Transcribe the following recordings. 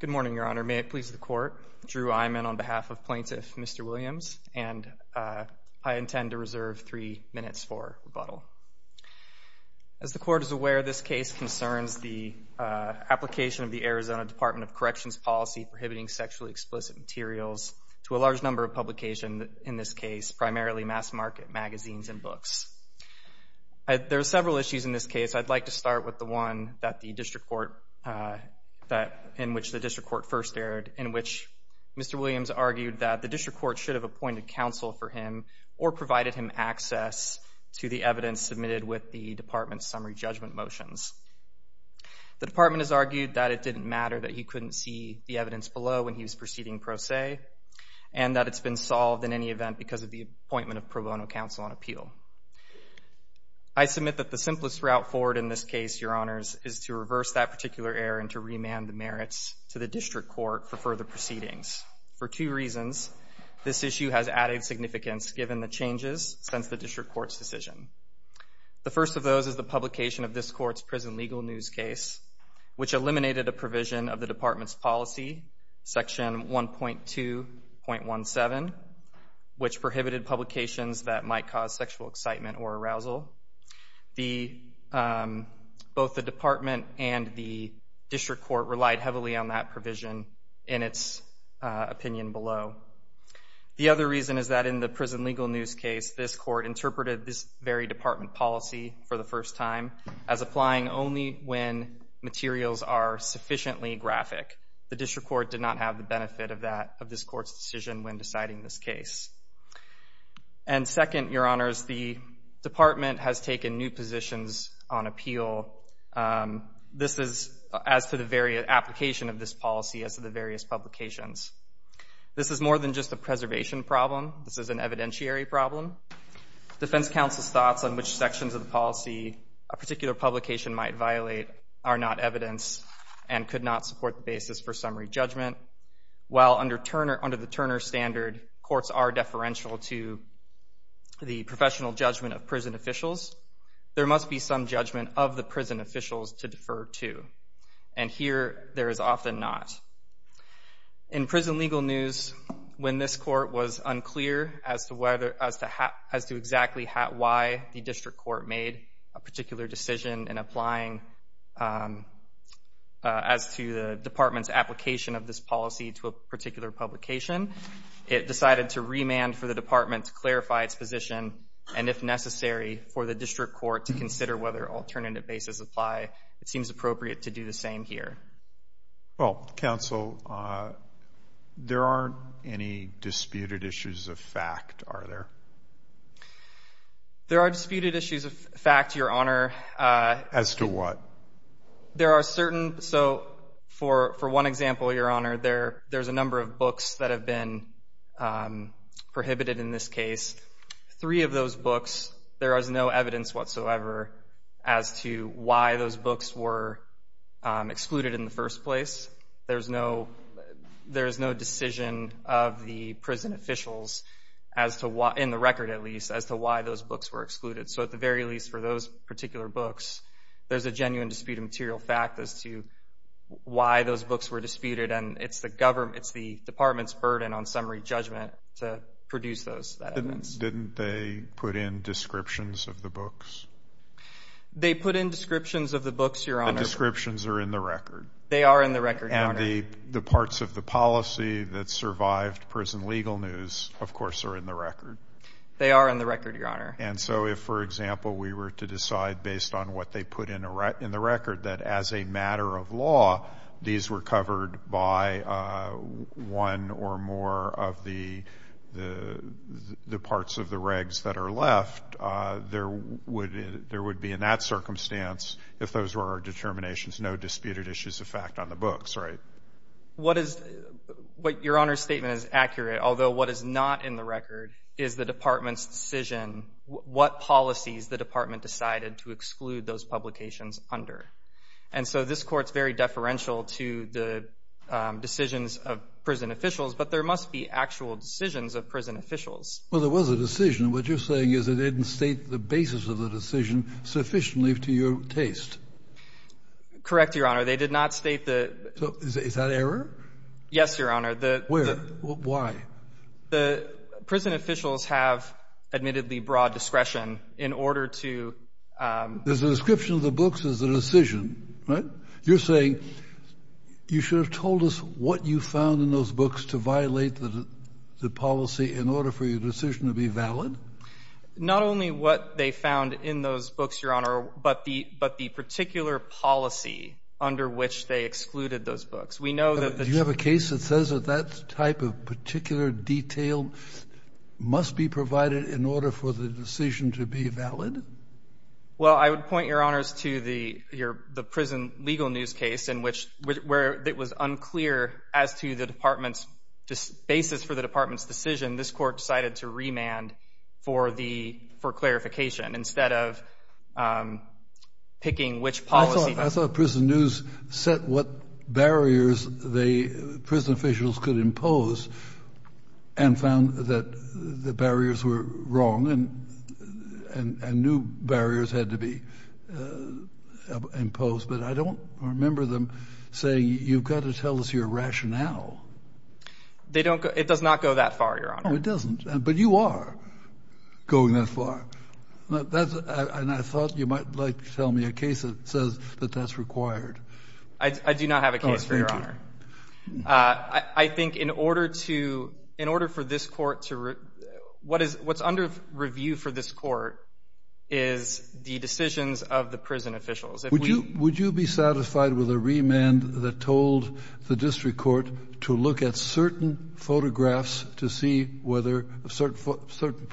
Good morning, Your Honor. May it please the Court, Drew Eymann on behalf of Plaintiff Mr. Williams, and I intend to reserve three minutes for rebuttal. As the Court is aware, this case concerns the application of the Arizona Department of Corrections policy prohibiting sexually explicit materials to a large number of publications in this case, primarily mass market magazines and books. There are several issues in this case. I'd like to start with the one in which the District Court first erred, in which Mr. Williams argued that the District Court should have appointed counsel for him or provided him access to the evidence submitted with the Department's summary judgment motions. The Department has argued that it didn't matter that he couldn't see the evidence below when he was proceeding pro se, and that it's been solved in any event because of the appointment of pro bono counsel on appeal. I submit that the simplest route forward in this case, Your Honors, is to reverse that particular error and to remand the merits to the District Court for further proceedings. For two reasons, this issue has added significance given the changes since the District Court's decision. The first of those is the publication of this Court's prison legal news case, which eliminated a provision of the Department's policy, Section 1.2.17, which prohibited publications that might cause sexual excitement or arousal. Both the Department and the District Court relied heavily on that provision in its opinion below. The other reason is that in the prison legal news case, this Court interpreted this very Department policy for the first time as applying only when materials are sufficiently graphic. The District Court did not have the And second, Your Honors, the Department has taken new positions on appeal. This is as to the very application of this policy as to the various publications. This is more than just a preservation problem. This is an evidentiary problem. Defense counsel's thoughts on which sections of the policy a particular publication might violate are not evidence and could not support the basis for summary judgment. While under the Turner standard, courts are deferential to the professional judgment of prison officials, there must be some judgment of the prison officials to defer to. And here, there is often not. In prison legal news, when this Court was unclear as to exactly why the District Court made a particular decision in applying as to the Department's application of this policy to a particular publication, it decided to remand for the Department to clarify its position, and if necessary, for the District Court to consider whether alternative basis apply. It seems appropriate to do the same here. Well, counsel, there aren't any disputed issues of fact, are there? There are disputed issues of fact, Your Honor. As to what? There are certain, so for one example, Your Honor, there's a number of books that have been prohibited in this case. Three of those books, there is no evidence whatsoever as to why those books were excluded in the first place. There's no decision of the prison officials, in the record at least, as to why those books were excluded. So at the very least, for those reasons, why those books were disputed, and it's the Department's burden on summary judgment to produce those evidence. Didn't they put in descriptions of the books? They put in descriptions of the books, Your Honor. The descriptions are in the record. They are in the record, Your Honor. And the parts of the policy that survived prison legal news, of course, are in the record. They are in the record, Your Honor. And so if, for example, we were to decide, based on what they put in the record, that as a matter of law, these were covered by one or more of the parts of the regs that are left, there would be, in that circumstance, if those were our determinations, no disputed issues of fact on the books, right? Your Honor's statement is accurate, although what is not in the record is the Department's decision to exclude those publications under. And so this Court's very deferential to the decisions of prison officials, but there must be actual decisions of prison officials. Well, there was a decision. What you're saying is they didn't state the basis of the decision sufficiently to your taste. Correct, Your Honor. They did not state the So, is that error? Yes, Your Honor. Where? Why? The prison officials have admittedly broad discretion in order to There's a description of the books as a decision, right? You're saying you should have told us what you found in those books to violate the policy in order for your decision to be valid? Not only what they found in those books, Your Honor, but the particular policy under which they excluded those books. We know that the Do you have a case that says that that type of particular detail must be provided in order for the decision to be valid? Well, I would point, Your Honor, to the prison legal news case in which it was unclear as to the Department's basis for the Department's decision. This Court decided to remand for clarification instead of picking which policy I thought prison news set what barriers the prison officials could impose and found that the barriers were wrong and new barriers had to be imposed. But I don't remember them saying, You've got to tell us your rationale. They don't. It does not go that far, Your Honor. Oh, it doesn't. But you are going that far. And I thought you might like to tell me a case that says that that's required. I do not have a case for Your Honor. I think in order to in order for this Court to what is what's under review for this Court is the decisions of the prison officials. Would you be satisfied with a remand that told the district court to look at certain photographs to see whether certain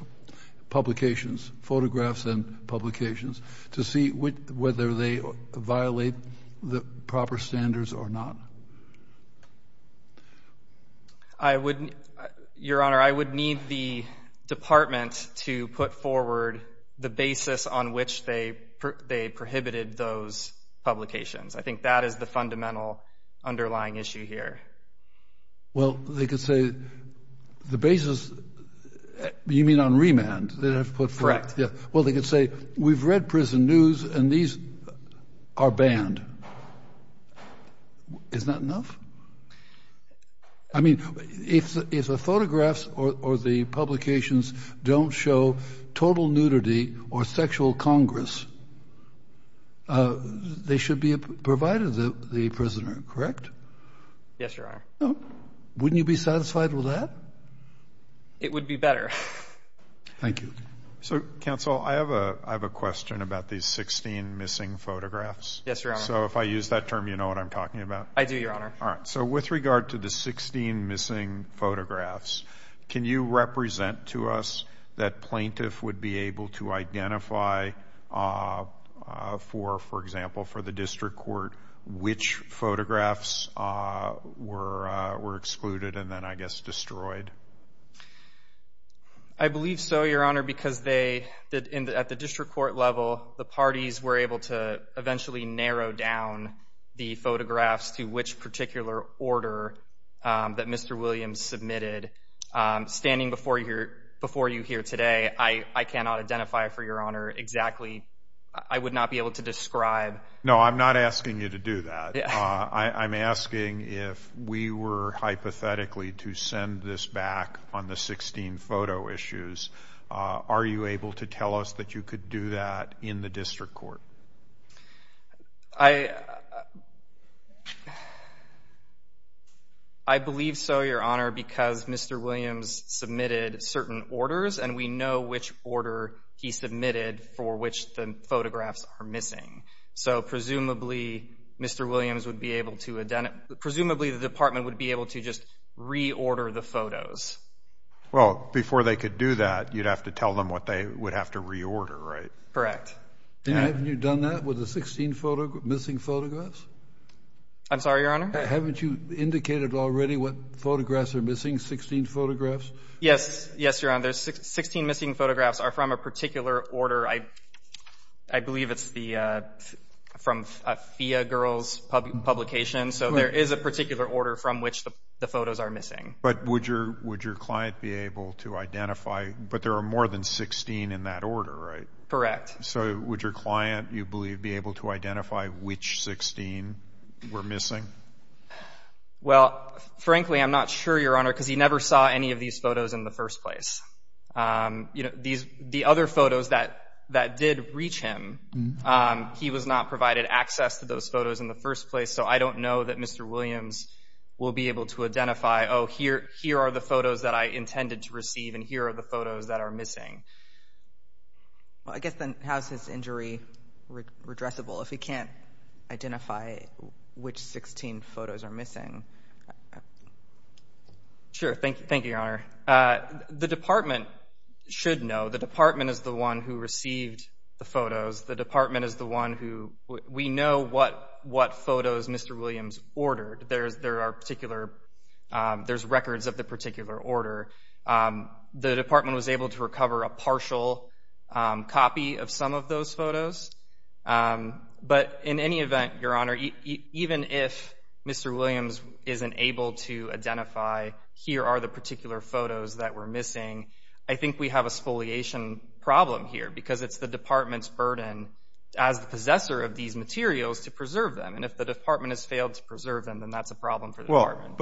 publications, photographs and publications, to see whether they violate the proper standards or not? I would, Your Honor, I would need the Department to put forward the basis on which they prohibited those publications. I think that is the fundamental underlying issue here. Well, they could say the basis, you mean on remand, that have put forward. Correct. Yeah. Well, they could say we've read prison news and these are banned. Is that enough? I mean, if the photographs or the publications don't show total nudity or sexual congress, they should be provided to the prisoner, correct? Yes, Your Honor. Wouldn't you be satisfied with that? It would be better. Thank you. So, Counsel, I have a question about these 16 missing photographs. Yes, Your Honor. So if I use that term, you know what I'm talking about? I do, Your Honor. All right. So with regard to the 16 missing photographs, can you represent to us that plaintiff would be able to identify for, for example, for the district court which photographs were excluded and then, I guess, destroyed? I believe so, Your Honor, because they, at the district court level, the parties were able to eventually narrow down the photographs to which particular order that Mr. Williams submitted. Standing before you here today, I cannot identify for Your Honor exactly. I would not be able to describe. No, I'm not asking you to do that. I'm asking if we were hypothetically to send this back on the 16 photo issues. Are you able to tell us that you could do that in the district court? I believe so, Your Honor, because Mr. Williams submitted certain orders and we know which order he submitted for which the photographs are missing. So presumably, Mr. Williams would be able to, presumably, the department would be able to just reorder the photos. Well, before they could do that, you'd have to tell them what they would have to reorder, right? Correct. And haven't you done that with the 16 missing photographs? I'm sorry, Your Honor? Haven't you indicated already what photographs are missing, 16 photographs? Yes, Your Honor. The 16 missing photographs are from a particular order. I believe it's the, from a FIA girl's publication. So there is a particular order from which the photos are missing. But would your client be able to identify, but there are more than 16 in that order, right? Correct. So would your client, you believe, be able to identify which 16 were missing? Well, frankly, I'm not sure, Your Honor, because he never saw any of these photos in the first place. You know, these, the other photos that, that did reach him, he was not provided access to those photos in the first place. So I don't know that Mr. Williams will be able to identify, oh, here, here are the photos that I intended to receive, and here are the photos that are missing. Well, I guess then, how's his injury redressable if he can't identify which 16 photos are missing? Sure. Thank you, Your Honor. The department should know. The department is the one who received the photos. The department is the one who, we know what, what photos Mr. Williams ordered. There's, there are particular, there's records of the particular order. The department was able to recover a partial copy of some of those photos. But in any event, Your Honor, even if Mr. Williams isn't able to identify, here are the particular photos that were missing, I think we have a exfoliation problem here, because it's the department's burden as the possessor of these materials to preserve them. And if the department has failed to preserve them, then that's a problem for the department.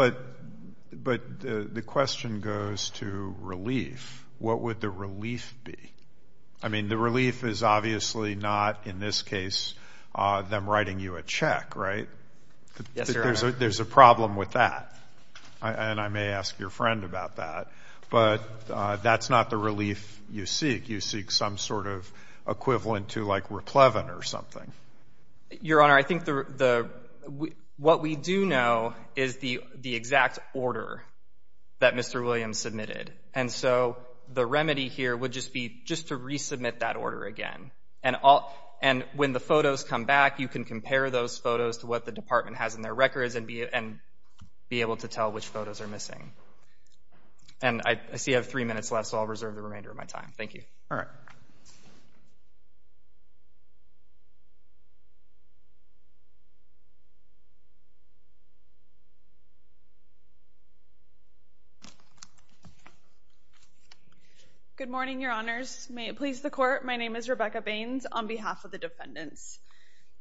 But the question goes to relief. What would the relief be? I mean, the relief is obviously not, in this case, them writing you a check, right? Yes, Your Honor. There's a problem with that. And I may ask your friend about that. But that's not the relief you seek. You seek some sort of equivalent to like, replevant or something. Your Honor, I think the, what we do know is the exact order that Mr. Williams submitted. And so, the remedy here would just be just to resubmit that order again. And when the photos come back, you can compare those photos to what the department has in their records and be able to tell which photos are missing. And I see I have three minutes left, so I'll reserve the remainder of my time. Thank you. All right. Good morning, Your Honors. May it please the Court, my name is Rebecca Baines on behalf of the defendants.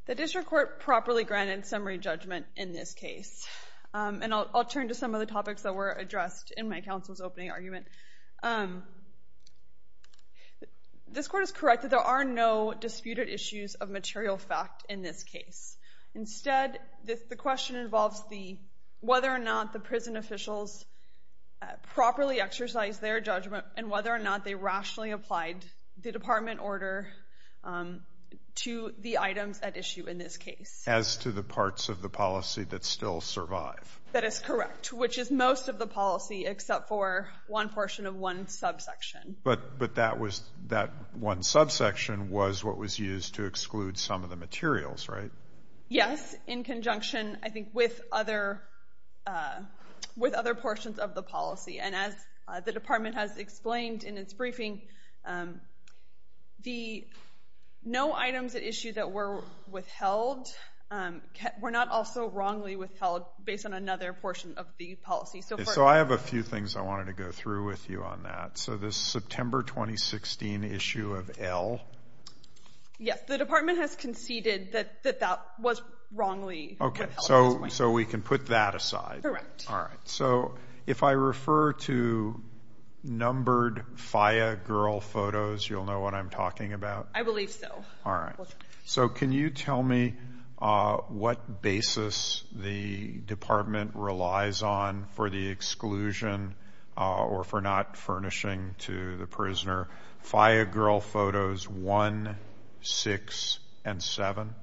The District Court properly granted summary judgment in this case. And I'll turn to some of the topics that were addressed in my counsel's opening argument. This Court is correct that there are no disputed issues of material fact in this case. Instead, the question involves whether or not the prison officials properly exercised their judgment and whether or not they rationally applied the department order to the items at issue in this case. As to the parts of the policy that still survive. That is correct, which is most of the policy except for one portion of one subsection. But that one subsection was what was used to exclude some of the materials, right? Yes, in conjunction, I think, with other portions of the policy. And as the department has explained in its briefing, no items at issue that were withheld were not also wrongly withheld based on another portion of the policy. So I have a few things I wanted to go through with you on that. So this September 2016 issue of L. Yes, the department has conceded that that was wrongly withheld. So we can put that aside. Correct. All right. So if I refer to numbered FIA girl photos, you'll know what I'm talking about? I believe so. All right. So can you tell me what basis the department relies on for the exclusion or for not furnishing to the prisoner FIA girl photos 1, 6, and 7?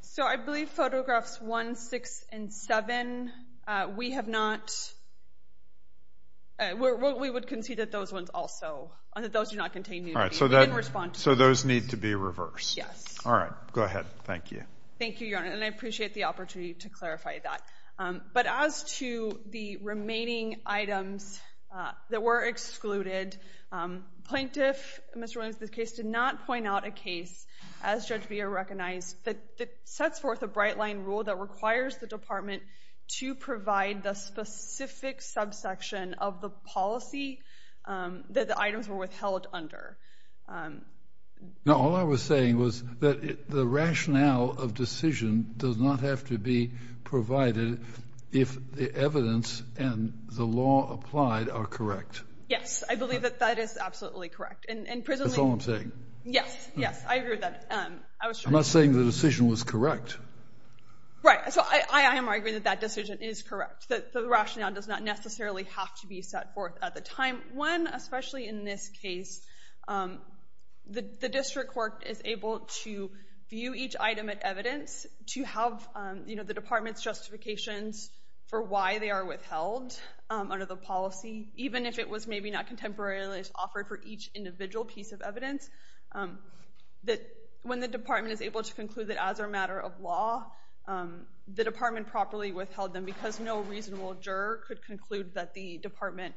So I believe photographs 1, 6, and 7, we have not, we would concede that those ones also, that those do not contain nudity. All right. We didn't respond to those. So those need to be reversed? Yes. All right. Go ahead. Thank you. Thank you, Your Honor. And I appreciate the opportunity to clarify that. But as to the remaining items that were excluded, plaintiff, Mr. Williams, in this case, did not point out a case, as Judge Beha recognized, that sets forth a bright-line rule that requires the department to provide the specific subsection of the policy that the items were withheld under. Now, all I was saying was that the rationale of decision does not have to be provided if the evidence and the law applied are correct. Yes. I believe that that is absolutely correct. That's all I'm saying? Yes. Yes. I agree with that. I was trying to... I'm not saying the decision was correct. Right. So I am arguing that that decision is correct, that the rationale does not necessarily have to be set forth at the time when, especially in this case, the district court is able to view each item of evidence to have, you know, the department's justifications for why they are withheld under the policy, even if it was maybe not contemporarily offered for each individual piece of evidence, that when the department is able to conclude that as a matter of law, the department properly withheld them because no reasonable juror could conclude that the department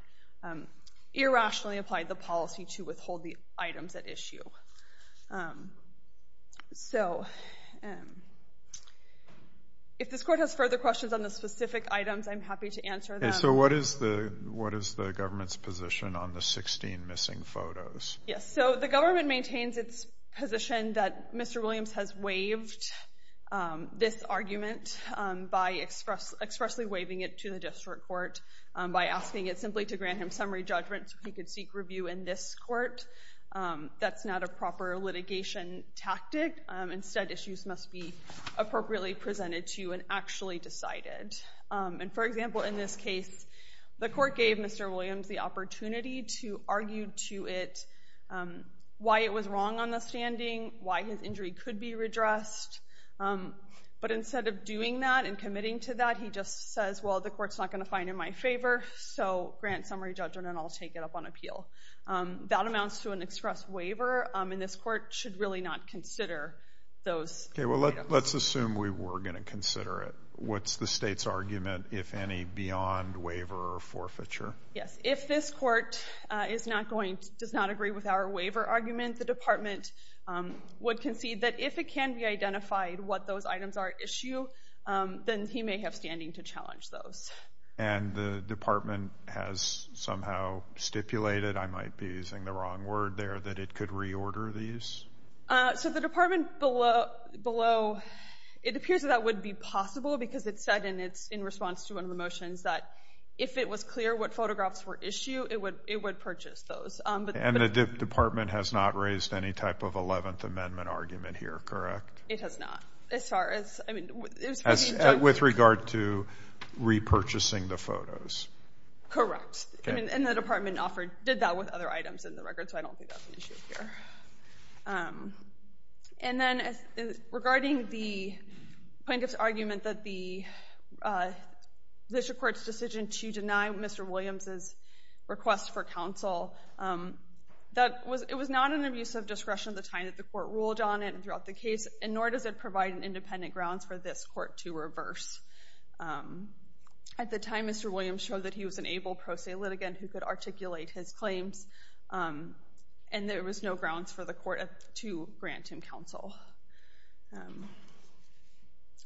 irrationally applied the policy to withhold the items at issue. So if this court has further questions on the specific items, I'm happy to answer them. So what is the government's position on the 16 missing photos? Yes. So the government maintains its position that Mr. Williams has waived this argument by expressly waiving it to the district court by asking it simply to grant him summary judgment so he could seek review in this court. That's not a proper litigation tactic. Instead, issues must be appropriately presented to you and actually decided. And for example, in this case, the court gave Mr. Williams the opportunity to argue to it why it was wrong on the standing, why his injury could be redressed. But instead of doing that and committing to that, he just says, well, the court's not going to find in my favor, so grant summary judgment and I'll take it up on appeal. That amounts to an express waiver, and this court should really not consider those items. Okay. Well, let's assume we were going to consider it. What's the state's argument, if any, beyond waiver or forfeiture? Yes. If this court does not agree with our waiver argument, the department would concede that if it can be identified what those items are at issue, then he may have standing to challenge those. And the department has somehow stipulated, I might be using the wrong word there, that it could reorder these? So the department below, it appears that that would be possible because it said in response to one of the motions that if it was clear what photographs were issue, it would purchase those. And the department has not raised any type of 11th Amendment argument here, correct? It has not. As far as, I mean... With regard to repurchasing the photos. Correct. And the department offered, did that with other items in the record, so I don't think that's an issue here. And then regarding the plaintiff's argument that the district court's decision to deny Mr. Williams' request for counsel, it was not an abuse of discretion at the time that the court ruled on it and throughout the case, and nor does it provide an independent grounds for this court to reverse. At the time, Mr. Williams showed that he was an able pro se litigant who could articulate his claims, and there was no grounds for the court to grant him counsel.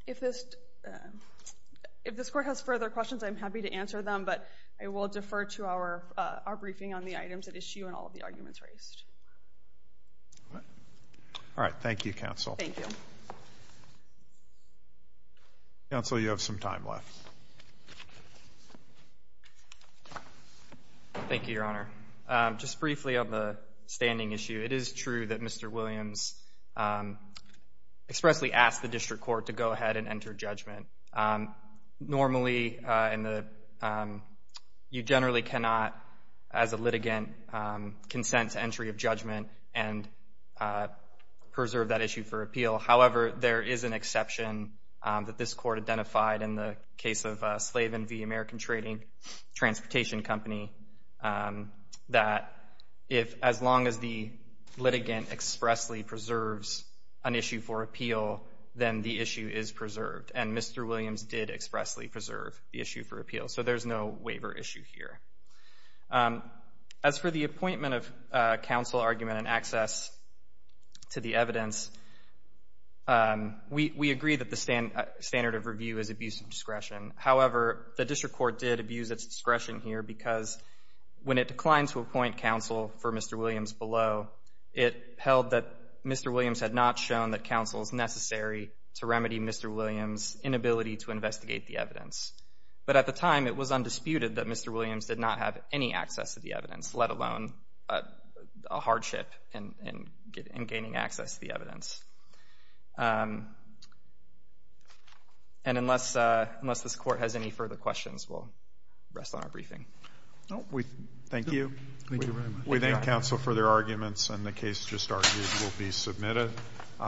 If this court has further questions, I'm happy to answer them, but I will defer to our briefing on the items at issue and all of the arguments raised. All right. Thank you, counsel. Thank you. Counsel, you have some time left. Thank you, Your Honor. Just briefly on the standing issue, it is true that Mr. Williams expressly asked the district court to go ahead and enter judgment. Normally, you generally cannot, as a litigant, consent to entry of judgment and preserve that issue for appeal. However, there is an exception that this court identified in the case of Slavin v. American Trading Transportation Company that if, as long as the litigant expressly preserves an issue for appeal, then the issue is preserved, and Mr. Williams did expressly preserve the issue for appeal. So there's no waiver issue here. As for the appointment of counsel argument and access to the evidence, we agree that the standard of review is abuse of discretion. However, the district court did abuse its discretion here because when it declined to appoint counsel for Mr. Williams below, it held that Mr. Williams had not shown that counsel is necessary to remedy Mr. Williams' inability to investigate the evidence. But at the time, it was undisputed that Mr. Williams did not have any access to the evidence, let alone a hardship in gaining access to the evidence. And unless this court has any further questions, we'll rest on our briefing. Thank you. Thank you very much. We thank counsel for their arguments, and the case just argued will be submitted.